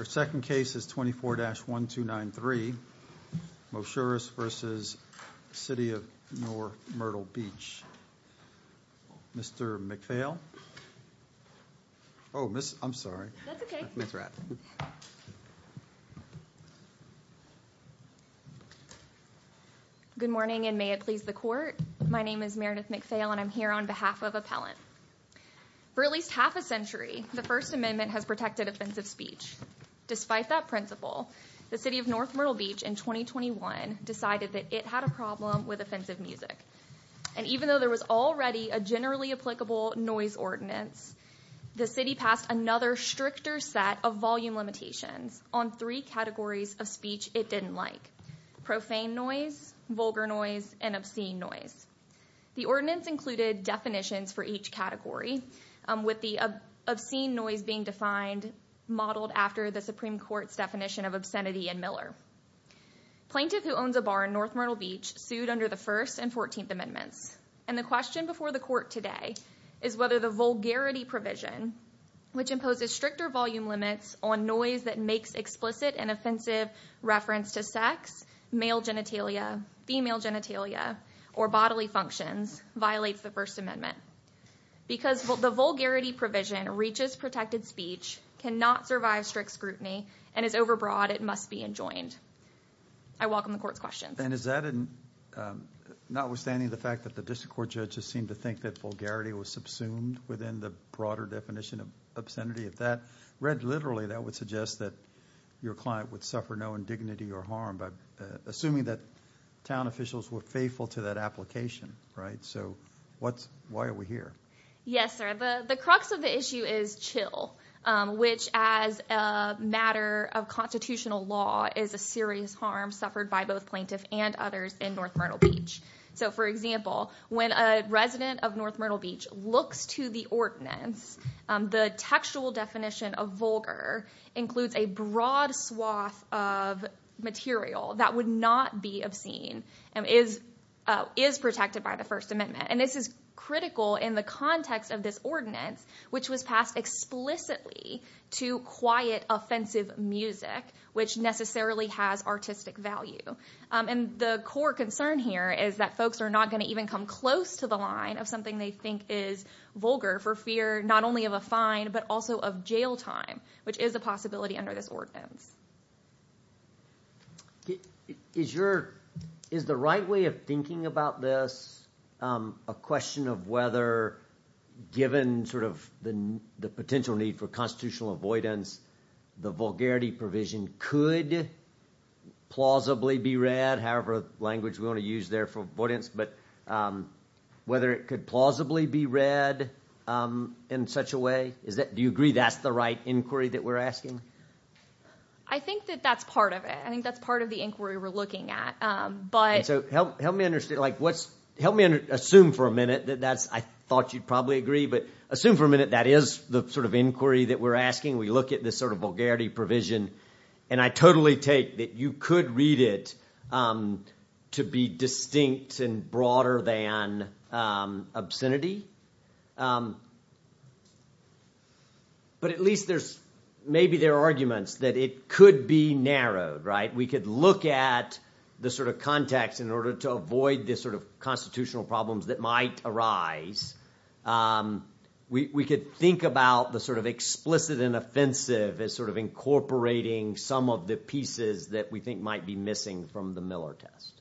Our second case is 24-1293, Moshoures v. City of North Myrtle Beach. Mr. McPhail? Oh, I'm sorry. That's okay. Please wrap. Good morning, and may it please the Court. My name is Meredith McPhail, and I'm here on behalf of Appellant. For at least half a century, the First Amendment has protected offensive speech. Despite that principle, the City of North Myrtle Beach in 2021 decided that it had a problem with offensive music. And even though there was already a generally applicable noise ordinance, the City passed another stricter set of volume limitations on three categories of speech it didn't like – profane noise, vulgar noise, and obscene noise. The ordinance included definitions for each category, with the obscene noise being defined modeled after the Supreme Court's definition of obscenity in Miller. Plaintiff who owns a bar in North Myrtle Beach sued under the First and Fourteenth Amendments, and the question before the Court today is whether the vulgarity provision, which imposes stricter volume limits on noise that makes explicit and offensive reference to sex, male genitalia, female genitalia, or bodily functions, violates the First Amendment. Because the vulgarity provision reaches protected speech, cannot survive strict scrutiny, and is overbroad, it must be enjoined. I welcome the Court's questions. And is that, notwithstanding the fact that the District Court judges seem to think that vulgarity was subsumed within the broader definition of obscenity, if that read literally that would suggest that your client would suffer no indignity or harm by assuming that town officials were faithful to that application, right? So what's – why are we here? Yes, sir. The crux of the issue is chill, which as a matter of constitutional law is a serious harm suffered by both plaintiffs and others in North Myrtle Beach. So for example, when a resident of North Myrtle Beach looks to the ordinance, the textual definition of vulgar includes a broad swath of material that would not be obscene and is protected by the First Amendment. And this is critical in the context of this ordinance, which was passed explicitly to quiet offensive music, which necessarily has artistic value. And the core concern here is that folks are not going to even come close to the line of they think is vulgar for fear not only of a fine, but also of jail time, which is a possibility under this ordinance. Is the right way of thinking about this a question of whether given sort of the potential need for constitutional avoidance, the vulgarity provision could plausibly be read, however language we want to use there for avoidance, but whether it could plausibly be read in such a way? Do you agree that's the right inquiry that we're asking? I think that that's part of it. I think that's part of the inquiry we're looking at. So help me understand, like what's, help me assume for a minute that that's, I thought you'd probably agree, but assume for a minute that is the sort of inquiry that we're asking. We look at this sort of vulgarity provision, and I totally take that you could read it to be distinct and broader than obscenity. But at least there's, maybe there are arguments that it could be narrowed, right? We could look at the sort of context in order to avoid this sort of constitutional problems that might arise. We could think about the sort of explicit and offensive as sort of incorporating some of the pieces that we think might be missing from the Miller test.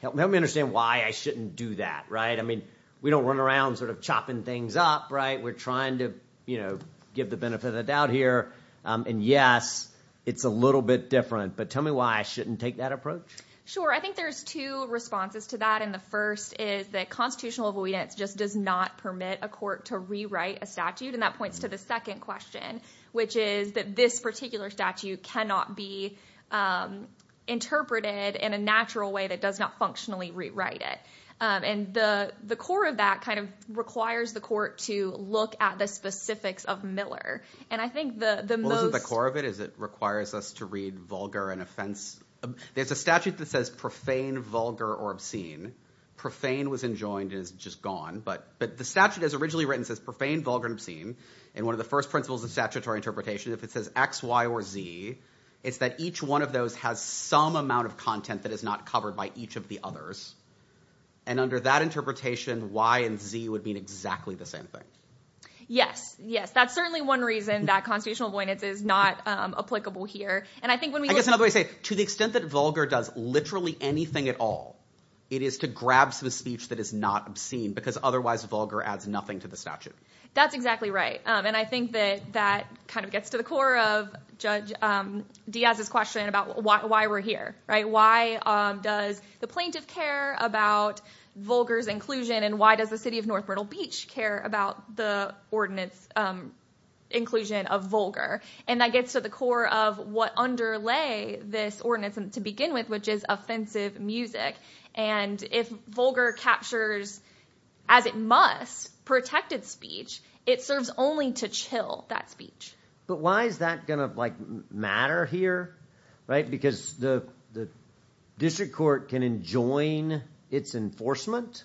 Help me understand why I shouldn't do that, right? I mean, we don't run around sort of chopping things up, right? We're trying to, you know, give the benefit of the doubt here. And yes, it's a little bit different, but tell me why I shouldn't take that approach. Sure. I think there's two responses to that. And the first is that constitutional avoidance just does not permit a court to rewrite a And that points to the second question, which is that this particular statute cannot be interpreted in a natural way that does not functionally rewrite it. And the core of that kind of requires the court to look at the specifics of Miller. And I think the most- Well, isn't the core of it is it requires us to read vulgar and offense? There's a statute that says profane, vulgar, or obscene. Profane was enjoined is just gone, but the statute as originally written says profane, vulgar, and obscene. And one of the first principles of statutory interpretation, if it says X, Y, or Z, it's that each one of those has some amount of content that is not covered by each of the And under that interpretation, Y and Z would mean exactly the same thing. Yes, yes. That's certainly one reason that constitutional avoidance is not applicable here. And I think when we- I guess another way to say it, to the extent that vulgar does literally anything at all, it is to grab some speech that is not obscene because otherwise vulgar adds nothing to the statute. That's exactly right. And I think that that kind of gets to the core of Judge Diaz's question about why we're here, right? Why does the plaintiff care about vulgar's inclusion? And why does the city of North Myrtle Beach care about the ordinance inclusion of vulgar? And that gets to the core of what underlay this ordinance to begin with, which is offensive music. And if vulgar captures, as it must, protected speech, it serves only to chill that speech. But why is that going to matter here, right? Because the district court can enjoin its enforcement,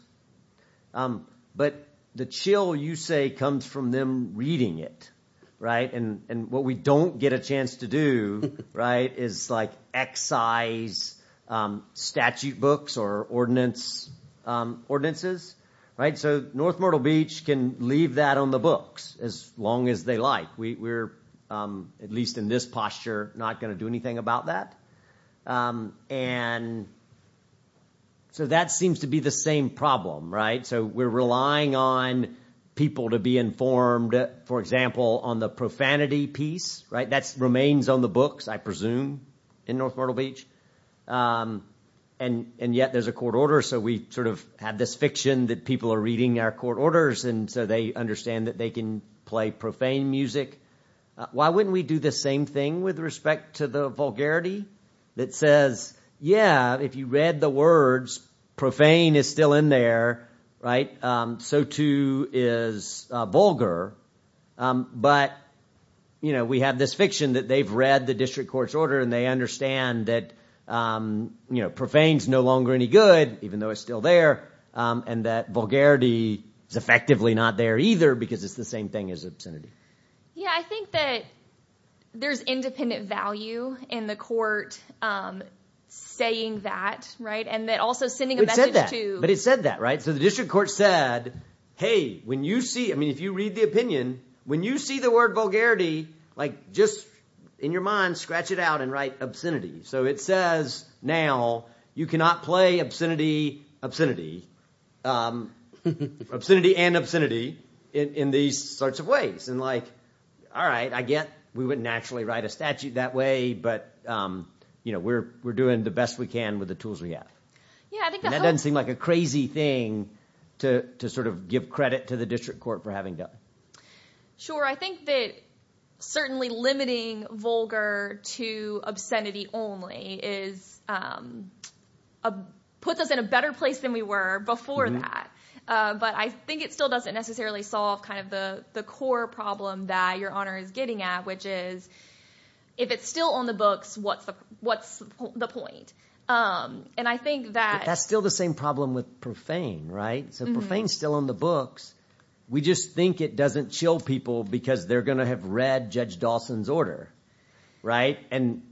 but the chill, you say, comes from them reading it, right? And what we don't get a chance to do, right, is excise statute books or ordinances, right? So North Myrtle Beach can leave that on the books as long as they like. We're, at least in this posture, not going to do anything about that. And so that seems to be the same problem, right? So we're relying on people to be informed, for example, on the profanity piece, right? That remains on the books, I presume, in North Myrtle Beach. And yet there's a court order, so we sort of have this fiction that people are reading our court orders, and so they understand that they can play profane music. Why wouldn't we do the same thing with respect to the vulgarity that says, yeah, if you read the words, profane is still in there, right? So too is vulgar, but, you know, we have this fiction that they've read the district court's order and they understand that, you know, profane's no longer any good, even though it's still there, and that vulgarity is effectively not there either because it's the same thing as obscenity. Yeah, I think that there's independent value in the court saying that, right? And that also sending a message to... But it said that, right? So the district court said, hey, when you see, I mean, if you read the opinion, when you see the word vulgarity, like, just in your mind, scratch it out and write obscenity. So it says now you cannot play obscenity, obscenity, obscenity and obscenity in these sorts of ways. And like, all right, I get we wouldn't actually write a statute that way, but, you know, we're doing the best we can with the tools we have. Yeah, I think that doesn't seem like a crazy thing to sort of give credit to the district court for having done. Sure. I think that certainly limiting vulgar to obscenity only puts us in a better place than we were before that. But I think it still doesn't necessarily solve kind of the core problem that Your Honor is getting at, which is if it's still on the books, what's the what's the point? And I think that... That's still the same problem with profane, right? So profane is still on the books. We just think it doesn't chill people because they're going to have read Judge Dawson's Right. And,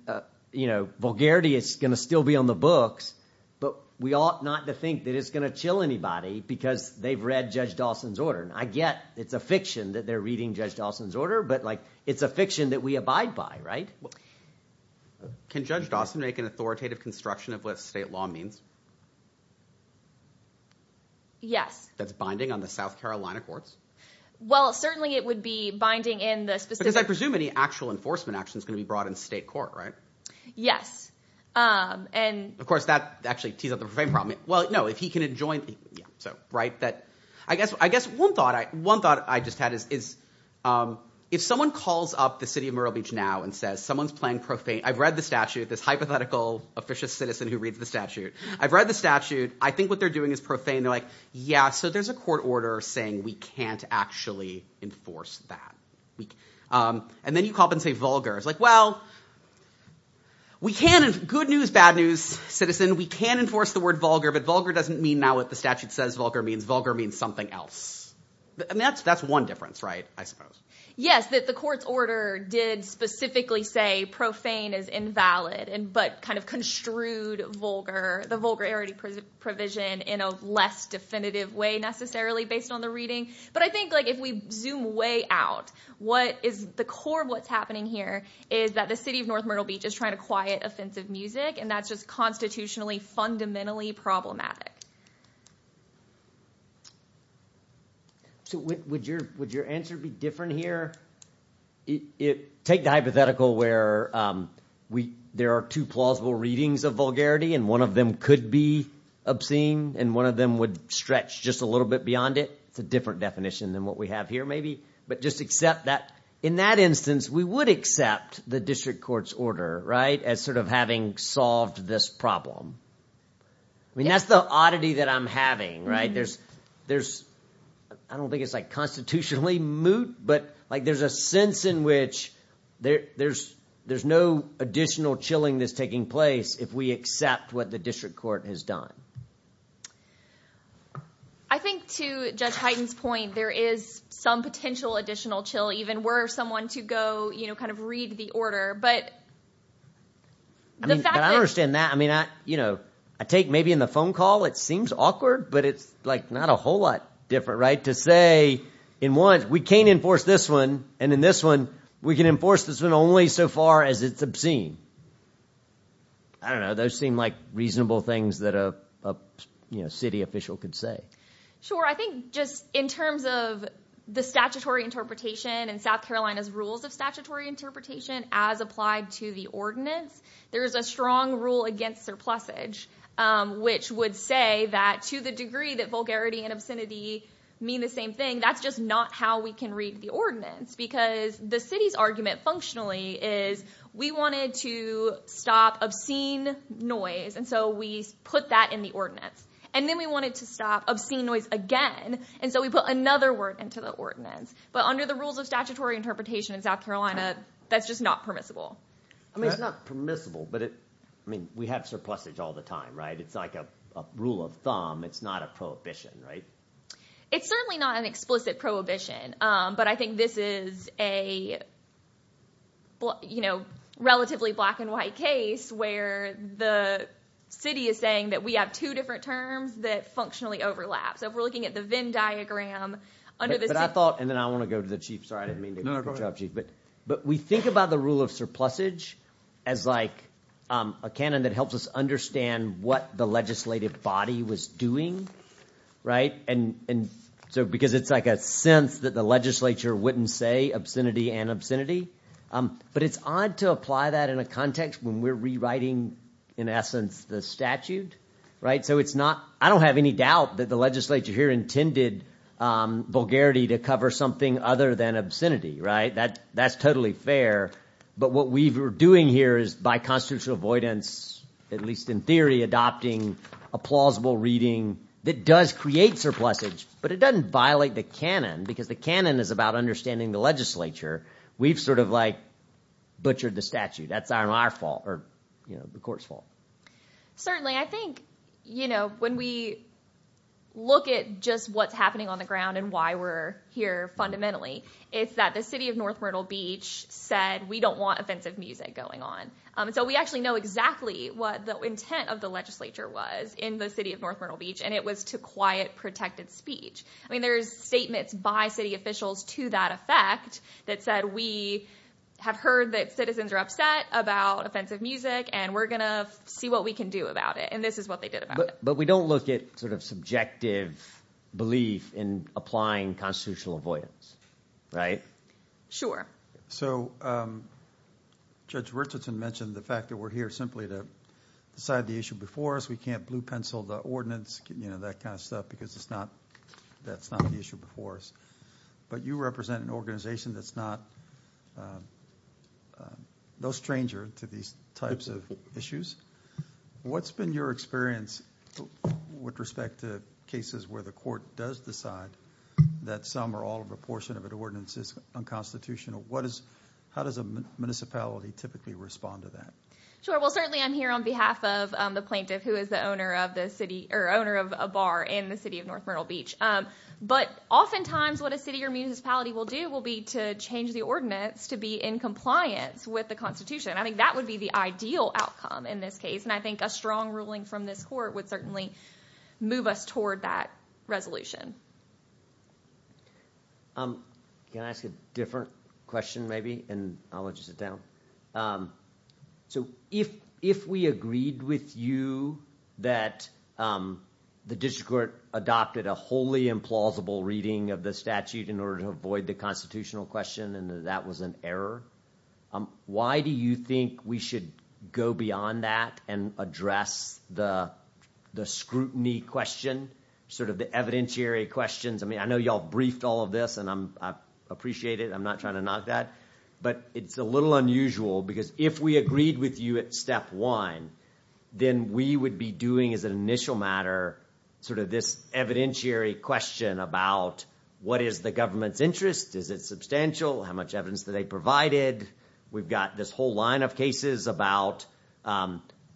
you know, vulgarity is going to still be on the books. But we ought not to think that it's going to chill anybody because they've read Judge Dawson's order. And I get it's a fiction that they're reading Judge Dawson's order. But like, it's a fiction that we abide by, right? Can Judge Dawson make an authoritative construction of what state law means? Yes. That's binding on the South Carolina courts? Well, certainly it would be binding in the specific... Because I presume any actual enforcement action is going to be brought in state court, right? Yes. And, of course, that actually tees up the profane problem. Well, no, if he can enjoin... Yeah. So, right. I guess one thought I just had is if someone calls up the city of Myrtle Beach now and says someone's playing profane, I've read the statute, this hypothetical officious citizen who reads the statute, I've read the statute. I think what they're doing is profane. They're like, yeah, so there's a court order saying we can't actually enforce that. And then you call up and say vulgar. It's like, well, good news, bad news, citizen, we can enforce the word vulgar, but vulgar doesn't mean now what the statute says vulgar means. Vulgar means something else. That's one difference, right? I suppose. Yes, that the court's order did specifically say profane is invalid, but kind of construed vulgar, the vulgarity provision in a less definitive way necessarily based on the reading. But I think like if we zoom way out, what is the core of what's happening here is that the city of North Myrtle Beach is trying to quiet offensive music and that's just constitutionally fundamentally problematic. So, would your answer be different here? Take the hypothetical where there are two plausible readings of vulgarity and one of them could be obscene and one of them would stretch just a little bit beyond it. It's a different definition than what we have here, maybe, but just accept that. In that instance, we would accept the district court's order, right, as sort of having solved this problem. I mean, that's the oddity that I'm having, right? There's, I don't think it's like constitutionally moot, but like there's a sense in which there's no additional chilling that's taking place if we accept what the district court has done. I think to Judge Hyten's point, there is some potential additional chill even were someone to go, you know, kind of read the order. But the fact that... I mean, I understand that. I mean, I, you know, I take maybe in the phone call it seems awkward, but it's like not a whole lot different, right? To say in one, we can't enforce this one and in this one we can enforce this one only so far as it's obscene. I don't know. Those seem like reasonable things that a city official could say. Sure. I think just in terms of the statutory interpretation and South Carolina's rules of statutory interpretation as applied to the ordinance, there is a strong rule against surplusage, which would say that to the degree that vulgarity and obscenity mean the same thing, that's just not how we can read the ordinance. Because the city's argument functionally is we wanted to stop obscene noise, and so we put that in the ordinance. And then we wanted to stop obscene noise again, and so we put another word into the ordinance. But under the rules of statutory interpretation in South Carolina, that's just not permissible. I mean, it's not permissible, but it, I mean, we have surplusage all the time, right? It's like a rule of thumb. It's not a prohibition, right? It's certainly not an explicit prohibition, but I think this is a, you know, relatively black and white case where the city is saying that we have two different terms that functionally overlap. So if we're looking at the Venn diagram under the city- But I thought, and then I want to go to the chief. Sorry, I didn't mean to interrupt you. But we think about the rule of surplusage as like a canon that helps us understand what the legislative body was doing, right? And so, because it's like a sense that the legislature wouldn't say obscenity and obscenity. But it's odd to apply that in a context when we're rewriting, in essence, the statute, right? So it's not, I don't have any doubt that the legislature here intended vulgarity to cover something other than obscenity, right? That's totally fair. But what we were doing here is by constitutional avoidance, at least in theory, adopting a plausible reading that does create surplusage, but it doesn't violate the canon because the canon is about understanding the legislature. We've sort of like butchered the statute. That's our fault or, you know, the court's fault. Certainly I think, you know, when we look at just what's happening on the ground and why we're here fundamentally, it's that the city of North Myrtle Beach said we don't want offensive music going on. So we actually know exactly what the intent of the legislature was in the city of North Myrtle Beach, and it was to quiet protected speech. I mean, there's statements by city officials to that effect that said we have heard that citizens are upset about offensive music and we're going to see what we can do about it. And this is what they did about it. But we don't look at sort of subjective belief in applying constitutional avoidance, right? Sure. So Judge Richardson mentioned the fact that we're here simply to decide the issue before us. We can't blue pencil the ordinance, you know, that kind of stuff because it's not that's not the issue before us. But you represent an organization that's not no stranger to these types of issues. What's been your experience with respect to cases where the court does decide that some or all of a portion of an ordinance is unconstitutional? What is how does a municipality typically respond to that? Sure. Well, certainly I'm here on behalf of the plaintiff who is the owner of the city or owner of a bar in the city of North Myrtle Beach. But oftentimes what a city or municipality will do will be to change the ordinance to be in compliance with the Constitution. I think that would be the ideal outcome in this case. And I think a strong ruling from this court would certainly move us toward that resolution. Can I ask a different question maybe? And I'll let you sit down. So if if we agreed with you that the district court adopted a wholly implausible reading of the statute in order to avoid the constitutional question and that was an error. Why do you think we should go beyond that and address the the scrutiny question sort of the evidentiary questions? I mean, I know you all briefed all of this and I appreciate it. I'm not trying to knock that. But it's a little unusual because if we agreed with you at step one, then we would be doing as an initial matter sort of this evidentiary question about what is the government's interest? Is it substantial? How much evidence that they provided? We've got this whole line of cases about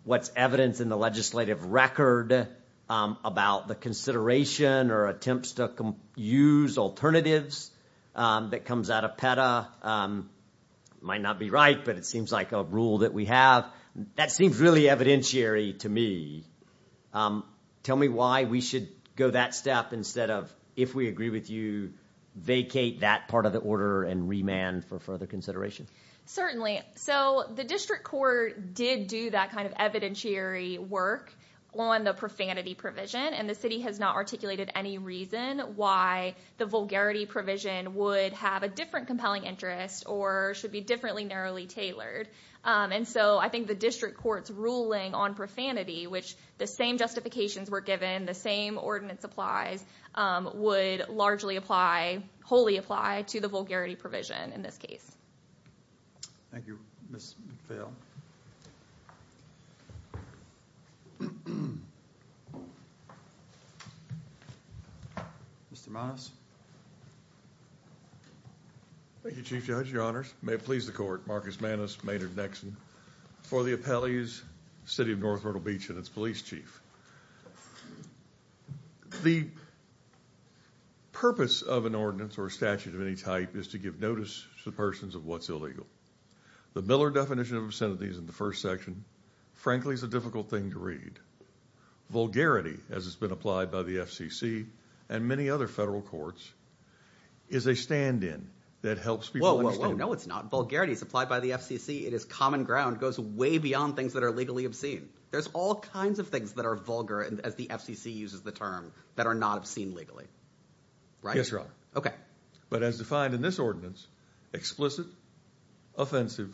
what's evidence in the legislative record about the consideration or attempts to use alternatives that comes out of PETA might not be right, but it seems like a rule that we have that seems really evidentiary to me. Tell me why we should go that step instead of if we agree with you, vacate that part of the order and remand for further consideration. Certainly. So the district court did do that kind of evidentiary work on the profanity provision and the city has not articulated any reason why the vulgarity provision would have a different compelling interest or should be differently narrowly tailored. And so I think the district court's ruling on profanity, which the same justifications were given, the same ordinance applies, would largely apply, wholly apply, to the vulgarity provision in this case. Thank you, Ms. McPhail. Mr. Manos. Thank you, Chief Judge, Your Honors. May it please the court, Marcus Manos, Maynard Nexon, for the appellee's city of North Myrtle Beach and its police chief. The purpose of an ordinance or statute of any type is to give notice to persons of what's illegal. The Miller definition of obscenities in the first section, frankly, is a difficult thing to Vulgarity, as it's been applied by the FCC and many other federal courts, is a stand-in that helps people understand- Whoa, whoa, whoa, no it's not. Vulgarity is applied by the FCC. It is common ground. It goes way beyond things that are legally obscene. There's all kinds of things that are vulgar, as the FCC uses the term, that are not obscene legally. Yes, Your Honor. Okay. But as defined in this ordinance, explicit, offensive,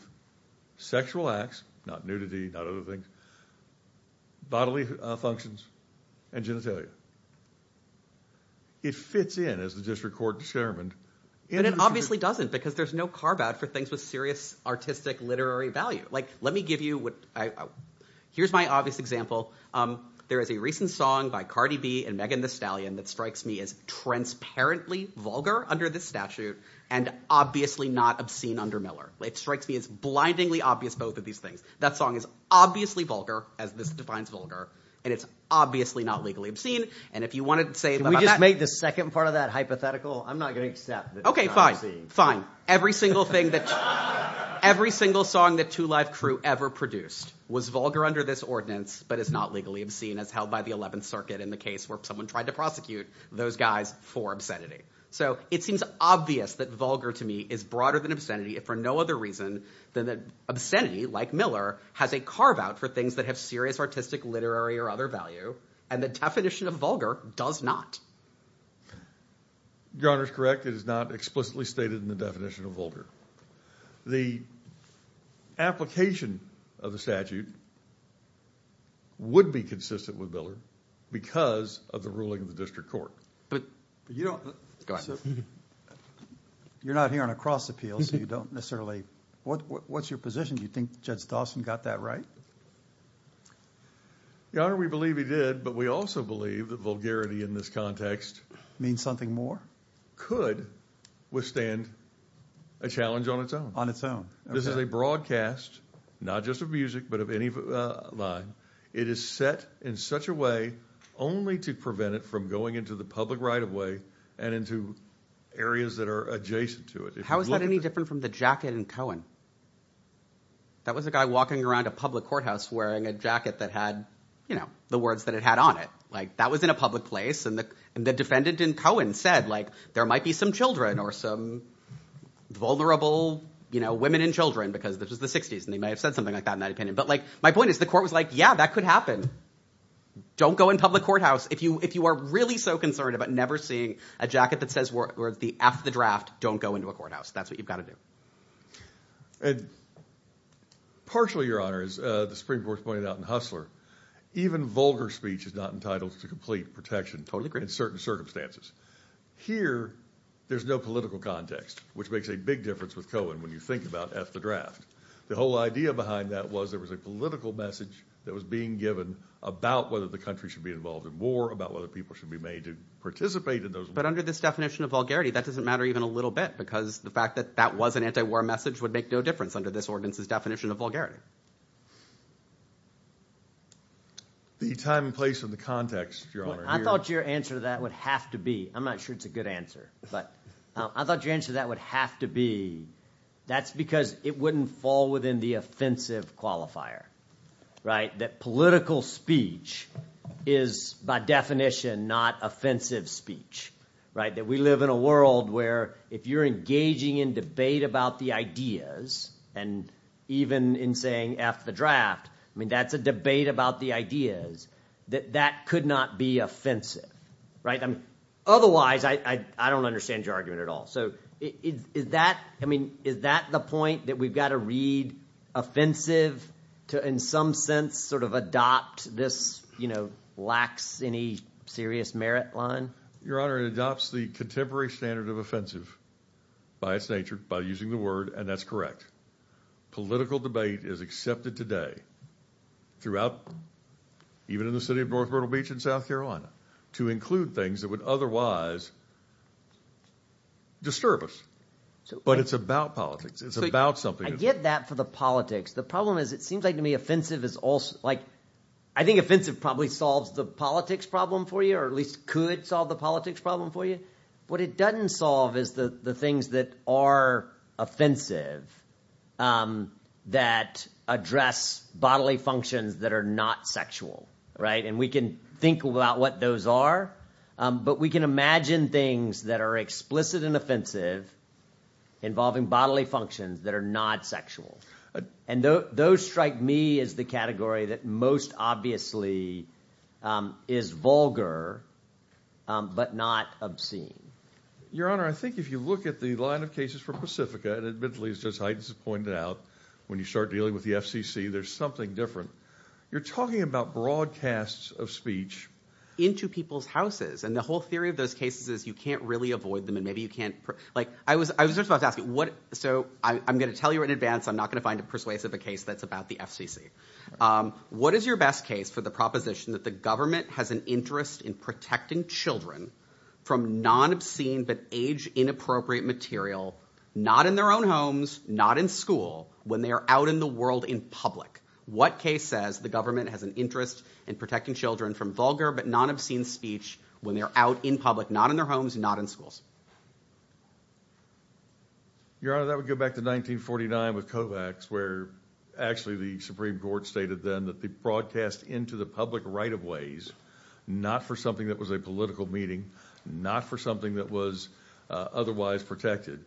sexual acts, not nudity, not other things, bodily functions, and genitalia. It fits in as the district court discernment- And it obviously doesn't because there's no carve out for things with serious artistic literary value. Let me give you what, here's my obvious example. There is a recent song by Cardi B and Megan Thee Stallion that strikes me as transparently vulgar under this statute and obviously not obscene under Miller. It strikes me as blindingly obvious, both of these things. That song is obviously vulgar, as this defines vulgar, and it's obviously not legally obscene. And if you wanted to say- Can we just make the second part of that hypothetical? I'm not going to accept that it's not obscene. Okay, fine, fine. Every single thing that, every single song that 2 Live Crew ever produced was vulgar under this ordinance, but it's not legally obscene as held by the 11th circuit in the case where someone tried to prosecute those guys for obscenity. So it seems obvious that vulgar to me is broader than obscenity if for no other reason than that obscenity, like Miller, has a carve out for things that have serious artistic literary or other value. And the definition of vulgar does not. Your Honor is correct. It is not explicitly stated in the definition of vulgar. The application of the statute would be consistent with Miller because of the ruling of the district court. But you don't- You're not here on a cross appeal, so you don't necessarily, what's your position? Do you think Judge Dawson got that right? Your Honor, we believe he did, but we also believe that vulgarity in this context- Means something more? Could withstand a challenge on its own. This is a broadcast, not just of music, but of any line. It is set in such a way only to prevent it from going into the public right of way and into areas that are adjacent to it. How is that any different from the jacket in Cohen? That was a guy walking around a public courthouse wearing a jacket that had, you know, the words that it had on it. That was in a public place and the defendant in Cohen said there might be some children or some vulnerable women and children because this was the 60s and they might have said something like that in that opinion. But my point is the court was like, yeah, that could happen. Don't go in public courthouse if you are really so concerned about never seeing a jacket that says the F of the draft, don't go into a courthouse. That's what you've got to do. Partially, Your Honor, as the Supreme Court pointed out in Hustler, even vulgar speech is not entitled to complete protection in certain circumstances. Here, there's no political context, which makes a big difference with Cohen when you think about F the draft. The whole idea behind that was there was a political message that was being given about whether the country should be involved in war, about whether people should be made to participate in those wars. But under this definition of vulgarity, that doesn't matter even a little bit because the fact that that was an anti-war message would make no difference under this ordinance's definition of vulgarity. The time and place and the context, Your Honor, here— I thought your answer to that would have to be—I'm not sure it's a good answer, but I thought your answer to that would have to be that's because it wouldn't fall within the offensive qualifier, right? That political speech is, by definition, not offensive speech, right? That we live in a world where if you're engaging in debate about the ideas and even in saying F the draft, I mean, that's a debate about the ideas, that that could not be offensive, right? Otherwise, I don't understand your argument at all. So is that—I mean, is that the point that we've got to read offensive to, in some sense, sort of adopt this, you know, lacks any serious merit line? Your Honor, it adopts the contemporary standard of offensive by its nature, by using the word, and that's correct. Political debate is accepted today throughout, even in the city of North Myrtle Beach in South Carolina, to include things that would otherwise disturb us. But it's about politics. It's about something— I get that for the politics. The problem is it seems like to me offensive is also—like, I think offensive probably solves the politics problem for you, or at least could solve the politics problem for you. What it doesn't solve is the things that are offensive that address bodily functions that are not sexual, right? And we can think about what those are, but we can imagine things that are explicit and offensive involving bodily functions that are not sexual. And those strike me as the category that most obviously is vulgar, but not obscene. Your Honor, I think if you look at the line of cases for Pacifica, and admittedly, as Judge Heintz has pointed out, when you start dealing with the FCC, there's something different. You're talking about broadcasts of speech— Into people's houses, and the whole theory of those cases is you can't really avoid them, and maybe you can't—like, I was just about to ask you, so I'm going to tell you in advance I'm not going to find a persuasive case that's about the FCC. What is your best case for the proposition that the government has an interest in protecting children from non-obscene but age-inappropriate material, not in their own homes, not in school, when they are out in the world in public? What case says the government has an interest in protecting children from vulgar but non-obscene speech when they're out in public, not in their homes, not in schools? Your Honor, that would go back to 1949 with Kovacs, where actually the Supreme Court stated then that the broadcast into the public right-of-ways, not for something that was a political meeting, not for something that was otherwise protected,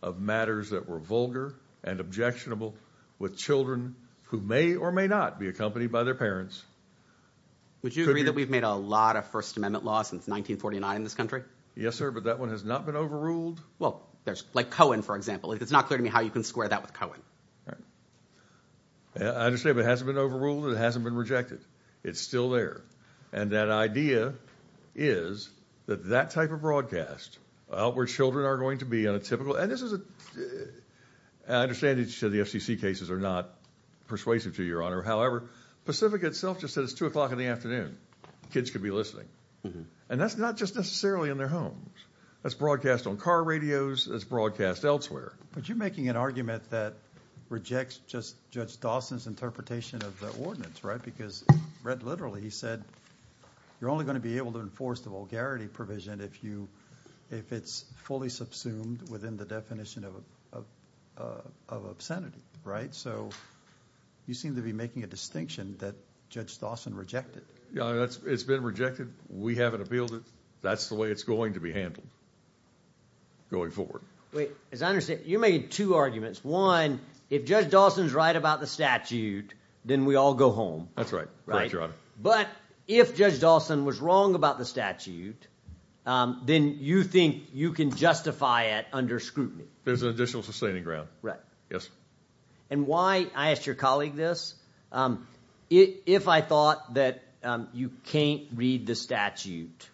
of matters that were vulgar and objectionable with children who may or may not be accompanied by their parents. Would you agree that we've made a lot of First Amendment law since 1949 in this country? Yes, sir, but that one has not been overruled. Well, there's like Cohen, for example. It's not clear to me how you can square that with Cohen. I understand, but it hasn't been overruled. It hasn't been rejected. It's still there. And that idea is that that type of broadcast, where children are going to be on a typical and this is an understanding to the FCC cases are not persuasive to your Honor. However, Pacific itself just said it's two o'clock in the afternoon. Kids could be listening. And that's not just necessarily in their homes. That's broadcast on car radios. That's broadcast elsewhere. But you're making an argument that rejects just Judge Dawson's interpretation of the ordinance, right? Because read literally, he said you're only going to be able to enforce the vulgarity provision if it's fully subsumed within the definition of obscenity, right? So you seem to be making a distinction that Judge Dawson rejected. Yeah, it's been rejected. We haven't appealed it. That's the way it's going to be handled going forward. Wait, as I understand, you made two arguments. One, if Judge Dawson's right about the statute, then we all go home. That's right. Right, Your Honor. But if Judge Dawson was wrong about the statute, then you think you can justify it under scrutiny? There's an additional sustaining ground. Right. Yes. And why I asked your colleague this, if I thought that you can't read the statute,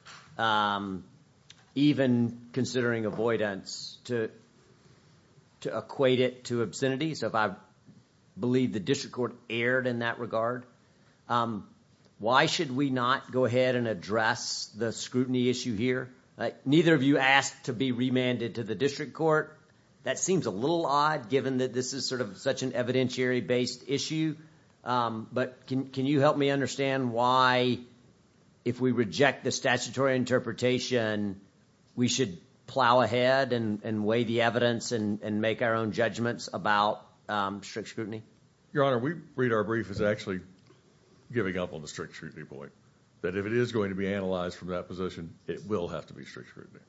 even considering avoidance to equate it to obscenity, so if I believe the district court erred in that regard, why should we not go ahead and address the scrutiny issue here? Neither of you asked to be remanded to the district court. That seems a little odd, given that this is sort of such an evidentiary-based issue. But can you help me understand why, if we reject the statutory interpretation, we should plow ahead and weigh the evidence and make our own judgments about strict scrutiny? Your Honor, we read our brief as actually giving up on the strict scrutiny point, that if it is going to be analyzed from that position, it will have to be strict scrutiny.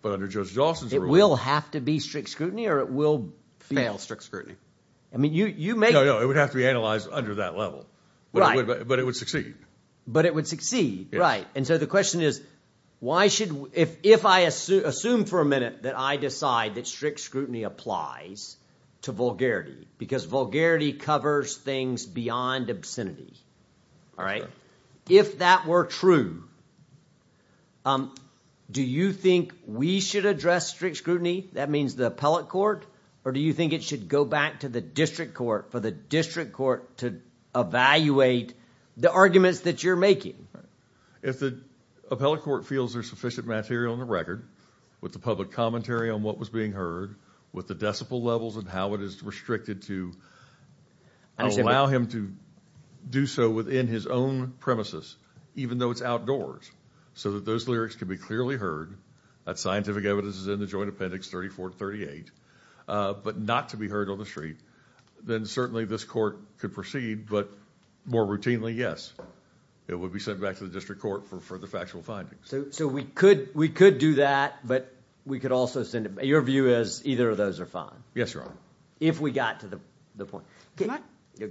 But under Judge Dawson's rule— It will have to be strict scrutiny, or it will be— Fail strict scrutiny. I mean, you make— No, no, it would have to be analyzed under that level. Right. But it would succeed. But it would succeed, right. And so the question is, if I assume for a minute that I decide that strict scrutiny applies to vulgarity, because vulgarity covers things beyond obscenity, all right, if that were true, do you think we should address strict scrutiny? That means the appellate court? Or do you think it should go back to the district court, for the district court to evaluate the arguments that you're making? Right. If the appellate court feels there's sufficient material on the record, with the public commentary on what was being heard, with the decibel levels and how it is restricted to allow him to do so within his own premises, even though it's outdoors, so that those lyrics can be clearly heard, that scientific evidence is in the joint appendix 34 to 38, but not to be heard on the street, then certainly this court could proceed. But more routinely, yes, it would be sent back to the district court for further factual findings. So we could do that, but we could also send— Your view is either of those are fine? Yes, Your Honor. If we got to the point. Go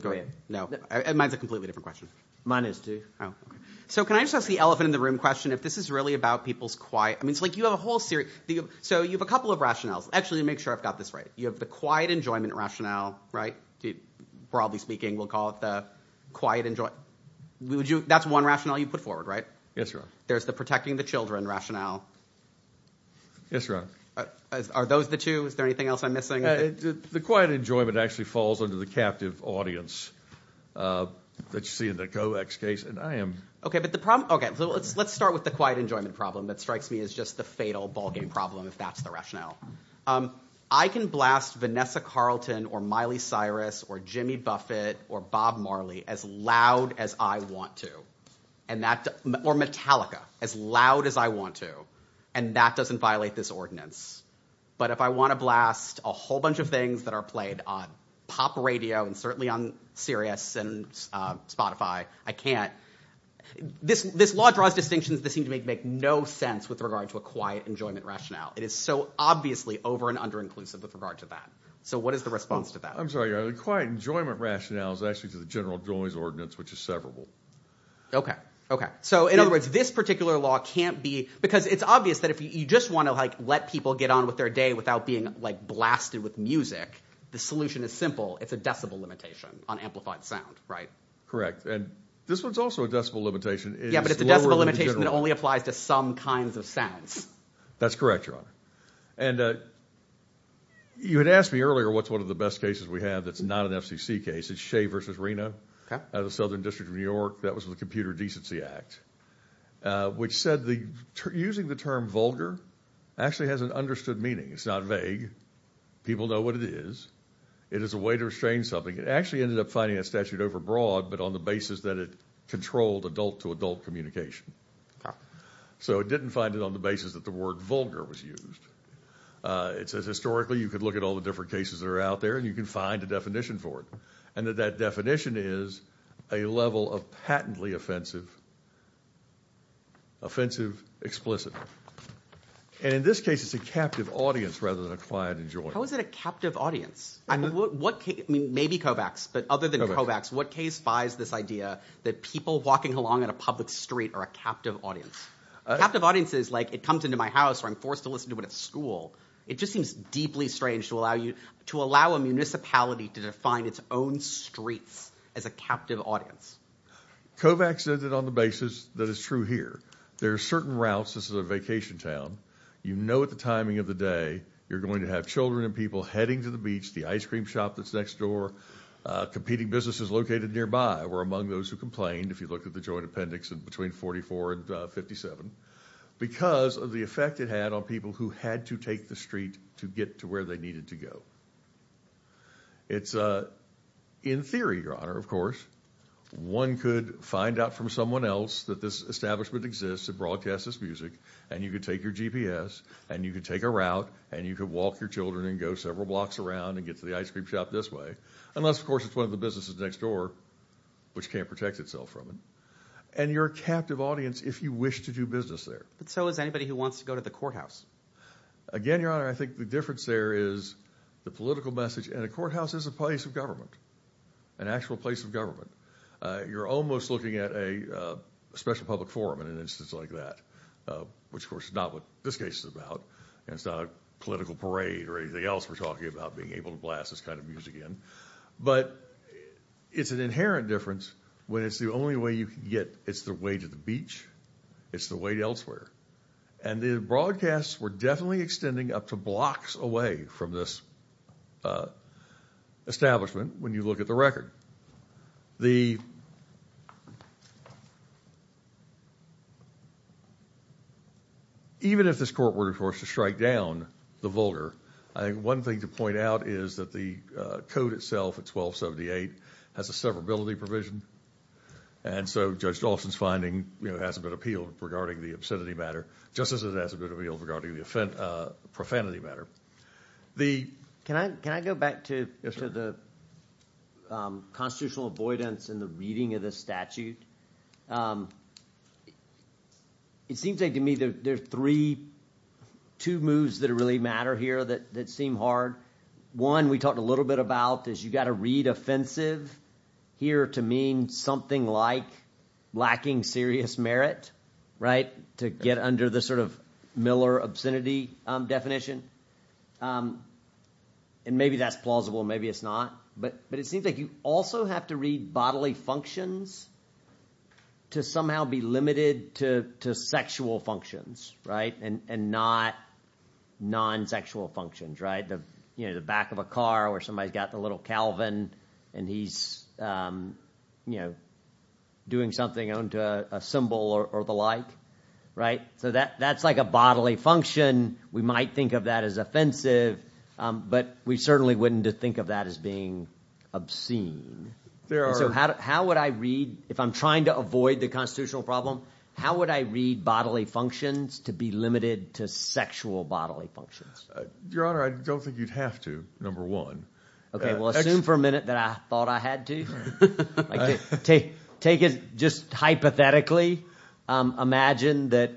ahead. No, mine's a completely different question. Mine is too. So can I just ask the elephant in the room question? If this is really about people's quiet— I mean, it's like you have a whole series— So you have a couple of rationales. Actually, to make sure I've got this right, you have the quiet enjoyment rationale, right? Broadly speaking, we'll call it the quiet enjoy— That's one rationale you put forward, right? Yes, Your Honor. There's the protecting the children rationale. Yes, Your Honor. Are those the two? Is there anything else I'm missing? The quiet enjoyment actually falls under the captive audience that you see in the COEX case. Okay, but the problem— Okay, so let's start with the quiet enjoyment problem that strikes me as just the fatal ballgame problem, if that's the rationale. I can blast Vanessa Carlton, or Miley Cyrus, or Jimmy Buffett, or Bob Marley as loud as I want to. And that— Or Metallica, as loud as I want to. And that doesn't violate this ordinance. But if I want to blast a whole bunch of things that are played on pop radio, and certainly on Sirius and Spotify, I can't. This law draws distinctions that seem to make no sense with regard to a quiet enjoyment rationale. It is so obviously over and under inclusive with regard to that. So what is the response to that? I'm sorry, Your Honor. The quiet enjoyment rationale is actually to the general joys ordinance, which is severable. Okay, okay. So in other words, this particular law can't be— Because it's obvious that if you just want to, like, let people get on with their day without being, like, blasted with music, the solution is simple. It's a decibel limitation on amplified sound, right? Correct. And this one's also a decibel limitation. Yeah, but it's a decibel limitation that only applies to some kinds of sounds. That's correct, Your Honor. And you had asked me earlier what's one of the best cases we have that's not an FCC case. It's Shea v. Reno. Okay. Out of the Southern District of New York. That was the Computer Decency Act, which said using the term vulgar actually has an understood meaning. It's not vague. People know what it is. It is a way to restrain something. It actually ended up finding a statute overbroad, but on the basis that it controlled adult-to-adult communication. So it didn't find it on the basis that the word vulgar was used. It says, historically, you could look at all the different cases that are out there and you can find a definition for it. And that definition is a level of patently offensive, offensive, explicit. And in this case, it's a captive audience rather than a client and joint. How is it a captive audience? I mean, what case, I mean, maybe Kovacs, but other than Kovacs, what case buys this idea that people walking along at a public street are a captive audience? Captive audiences, like it comes into my house or I'm forced to listen to it at school. It just seems deeply strange to allow you, to allow a municipality to define its own streets as a captive audience. Kovacs said that on the basis that is true here. There are certain routes. This is a vacation town. You know, at the timing of the day, you're going to have children and people heading to the beach, the ice cream shop that's next door, competing businesses located nearby were among those who complained. If you look at the joint appendix in between 44 and 57, because of the effect it had on people who had to take the street to get to where they needed to go. It's in theory, Your Honor, of course, one could find out from someone else that this establishment exists and broadcast this music and you could take your GPS and you could take a route and you could walk your children and go several blocks around and get to the ice cream shop this way. Unless, of course, it's one of the businesses next door, which can't protect itself from it. And you're a captive audience if you wish to do business there. But so is anybody who wants to go to the courthouse. Again, Your Honor, I think the difference there is the political message and a courthouse is a place of government, an actual place of government. You're almost looking at a special public forum in an instance like that, which of course is not what this case is about. And it's not a political parade or anything else we're talking about being able to blast this kind of music in. But it's an inherent difference when it's the only way you can get, it's the way to the beach, it's the way elsewhere. And the broadcasts were definitely extending up to blocks away from this establishment when you look at the record. Even if this court were to strike down the vulgar, I think one thing to point out is that the code itself at 1278 has a severability provision. And so Judge Dawson's finding hasn't been appealed regarding the obscenity matter, just as it hasn't been appealed regarding the profanity matter. Can I go back to the constitutional avoidance and the reading of the statute? It seems like to me there are three, two moves that really matter here that seem hard. One we talked a little bit about is you got to read offensive here to mean something like lacking serious merit, to get under the sort of Miller obscenity definition. And maybe that's plausible, maybe it's not. But it seems like you also have to read bodily functions to somehow be limited to sexual functions and not non-sexual functions. The back of a car where somebody's got the little Calvin and he's doing something onto a symbol or the like. So that's like a bodily function. We might think of that as offensive, but we certainly wouldn't think of that as being obscene. If I'm trying to avoid the constitutional problem, how would I read bodily functions to be limited to sexual bodily functions? Your Honor, I don't think you'd have to, number one. Okay, well, assume for a minute that I thought I had to. Take it just hypothetically. Imagine that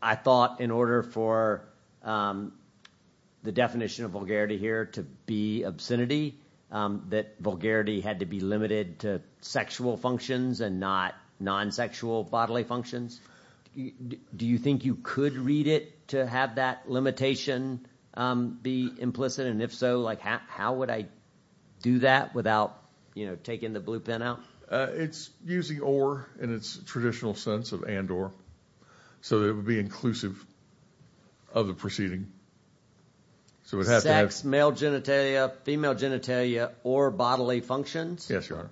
I thought in order for the definition of vulgarity here to be obscenity, that vulgarity had to be limited to sexual functions and not non-sexual bodily functions. Do you think you could read it to have that limitation? Be implicit, and if so, how would I do that without taking the blue pen out? It's using or in its traditional sense of and or. So that it would be inclusive of the proceeding. So it has to have... Sex, male genitalia, female genitalia, or bodily functions? Yes, Your Honor.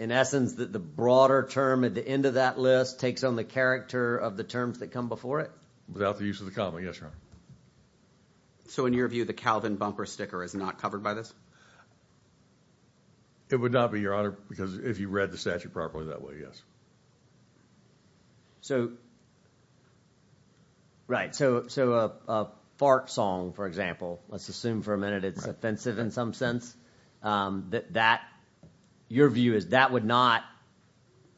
In essence, the broader term at the end of that list takes on the character of the terms that come before it? Without the use of the common, yes, Your Honor. So in your view, the Calvin bumper sticker is not covered by this? It would not be, Your Honor, because if you read the statute properly that way, yes. Right, so a fart song, for example, let's assume for a minute it's offensive in some sense. That your view is that would not...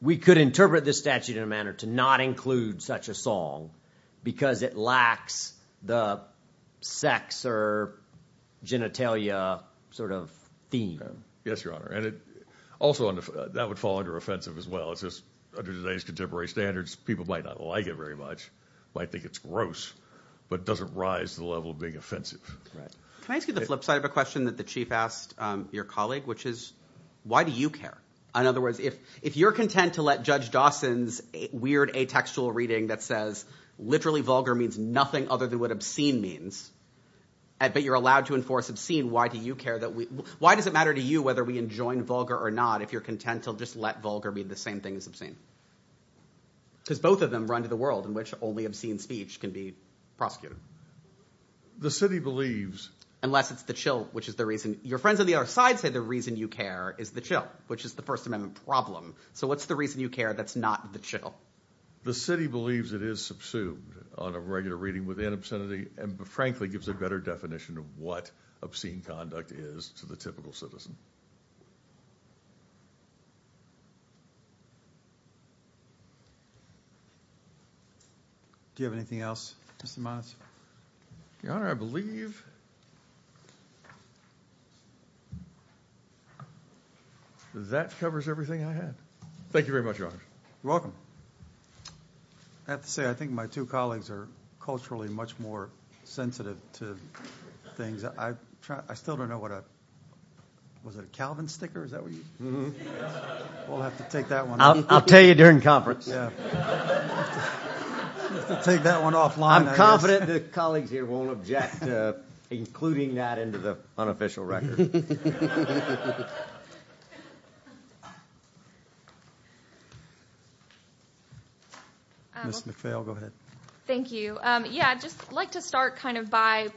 We could interpret this statute in a manner to not include such a song because it lacks the sex or genitalia sort of theme. Yes, Your Honor. And also that would fall under offensive as well. It's just under today's contemporary standards, people might not like it very much, might think it's gross, but it doesn't rise to the level of being offensive. Right. Can I ask you the flip side of a question that the chief asked your colleague, which is why do you care? In other words, if you're content to let Judge Dawson's weird atextual reading that says, literally vulgar means nothing other than what obscene means, but you're allowed to enforce obscene, why do you care that we... Why does it matter to you whether we enjoin vulgar or not if you're content to just let vulgar be the same thing as obscene? Because both of them run to the world in which only obscene speech can be prosecuted. The city believes... Unless it's the chill, which is the reason... Your friends on the other side say the reason you care is the chill, which is the First Amendment problem. So what's the reason you care that's not the chill? The city believes it is subsumed on a regular reading within obscenity and frankly, gives a better definition of what obscene conduct is to the typical citizen. Do you have anything else, Mr. Mons? Your Honor, I believe... That covers everything I had. Thank you very much, Your Honor. You're welcome. I have to say, I think my two colleagues are culturally much more sensitive to things. I still don't know what a... Was it a Calvin sticker? Is that what you... We'll have to take that one off. I'll tell you during conference. Yeah. We'll have to take that one offline. I'm confident the colleagues here won't object to including that into the unofficial record. Ms. McPhail, go ahead. Thank you. Yeah, I'd just like to start kind of by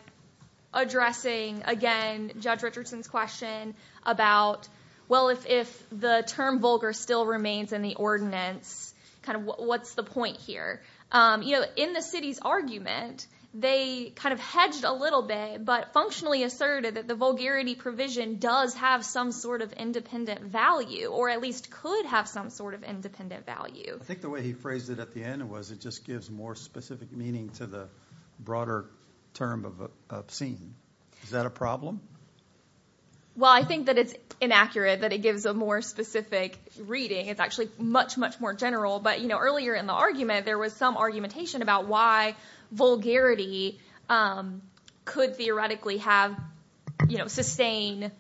addressing again, Judge Richardson's question about, well, if the term vulgar still remains in the ordinance, kind of what's the point here? In the city's argument, they kind of hedged a little bit, but functionally asserted that the vulgarity provision does have some sort of independent value or at least could have some sort of independent value. I think the way he phrased it at the end was it just gives more specific meaning to the broader term of obscene. Is that a problem? Well, I think that it's inaccurate that it gives a more specific reading. It's actually much, much more general. But earlier in the argument, there was some argumentation about why vulgarity could theoretically have sustained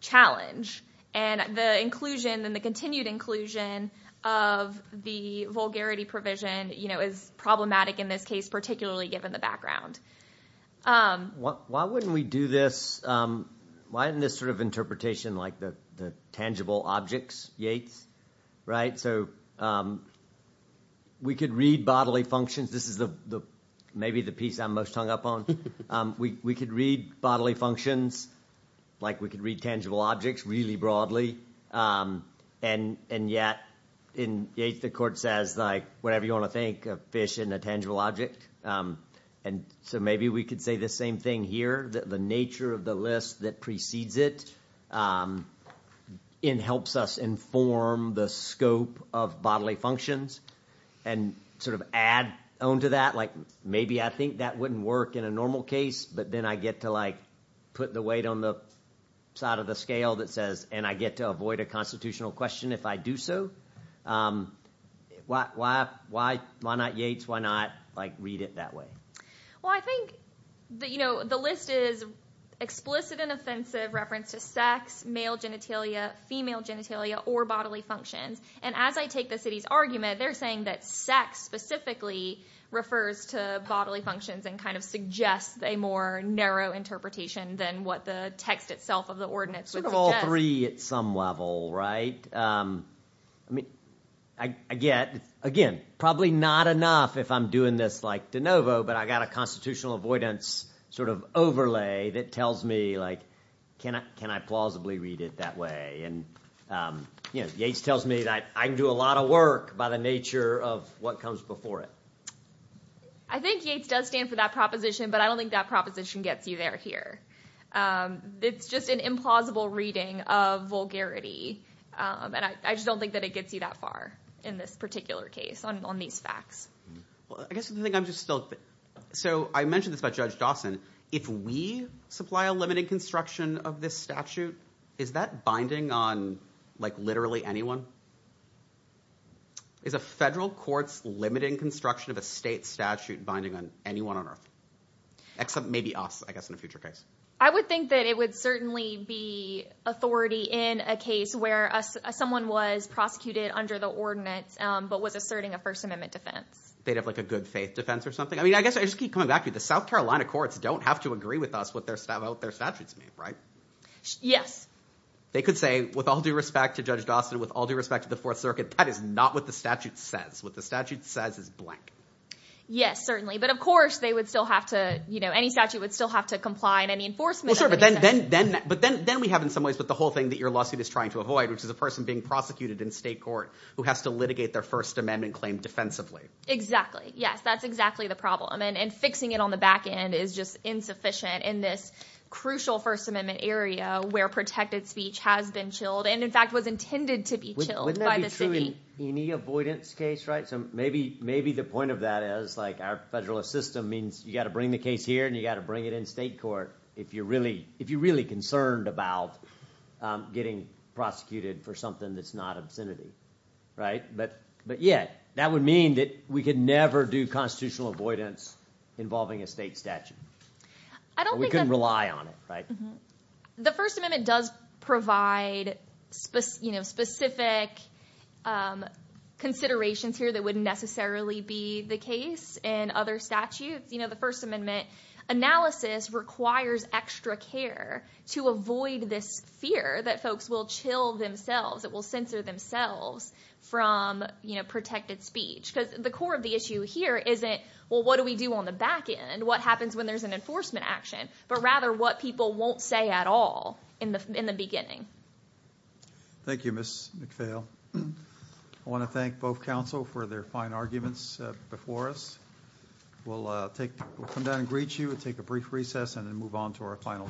challenge. And the inclusion and the continued inclusion of the vulgarity provision is problematic in this case, particularly given the background. Why wouldn't we do this? Why isn't this sort of interpretation like the tangible objects, Yates? Right? So we could read bodily functions. This is maybe the piece I'm most hung up on. We could read bodily functions like we could read tangible objects really broadly. And yet in Yates, the court says like, whatever you want to think of fish in a tangible object. And so maybe we could say the same thing here, the nature of the list that precedes it in helps us inform the scope of bodily functions and sort of add onto that. Like, maybe I think that wouldn't work in a normal case, but then I get to like, put the weight on the side of the scale that says, and I get to avoid a constitutional question if I do so. Why not Yates? Why not like read it that way? Well, I think that, you know, the list is explicit and offensive reference to sex, male genitalia, female genitalia, or bodily functions. And as I take the city's argument, they're saying that sex specifically refers to bodily functions and kind of suggests a more narrow interpretation than what the text itself of the ordinance would suggest. Sort of all three at some level, right? I mean, I get, again, probably not enough if I'm doing this like de novo, but I got a constitutional avoidance sort of overlay that tells me like, can I plausibly read it that way? And, you know, Yates tells me that I can do a lot of work by the nature of what comes before it. I think Yates does stand for that proposition, but I don't think that proposition gets you there here. It's just an implausible reading of vulgarity. And I just don't think that it gets you that far in this particular case on these facts. Well, I guess the thing I'm just still, so I mentioned this about Judge Dawson. If we supply a limiting construction of this statute, is that binding on like literally anyone? Is a federal court's limiting construction of a state statute binding on anyone on earth? Except maybe us, I guess in a future case. I would think that it would certainly be authority in a case where someone was prosecuted under the ordinance, but was asserting a First Amendment defense. They'd have like a good faith defense or something. I mean, I guess I just keep coming back to the South Carolina courts don't have to agree with us what their statutes mean, right? Yes. They could say, with all due respect to Judge Dawson, with all due respect to the Fourth Circuit, that is not what the statute says. What the statute says is blank. Yes, certainly. But of course they would still have to, you know, any statute would still have to comply in any enforcement of any statute. But then we have in some ways, but the whole thing that your lawsuit is trying to avoid, which is a person being prosecuted in state court who has to litigate their First Amendment claim defensively. Exactly. Yes, that's exactly the problem. And fixing it on the back end is just insufficient in this crucial First Amendment area where protected speech has been chilled and in fact was intended to be chilled by the city. Wouldn't that be true in any avoidance case, right? So maybe the point of that is like our federalist system means you got to bring the case here and you got to bring it in state court. If you're really concerned about getting prosecuted for something that's not obscenity, right? But yeah, that would mean that we could never do constitutional avoidance involving a state statute. We couldn't rely on it, right? The First Amendment does provide specific considerations here that wouldn't necessarily be the case in other statutes. You know, the First Amendment analysis requires extra care to avoid this fear that folks will chill themselves. It will censor themselves from protected speech because the core of the issue here isn't, well, what do we do on the back end? What happens when there's an enforcement action? But rather what people won't say at all in the beginning. Thank you, Ms. McPhail. I want to thank both counsel for their fine arguments before us. We'll come down and greet you and take a brief recess and then move on to our final case.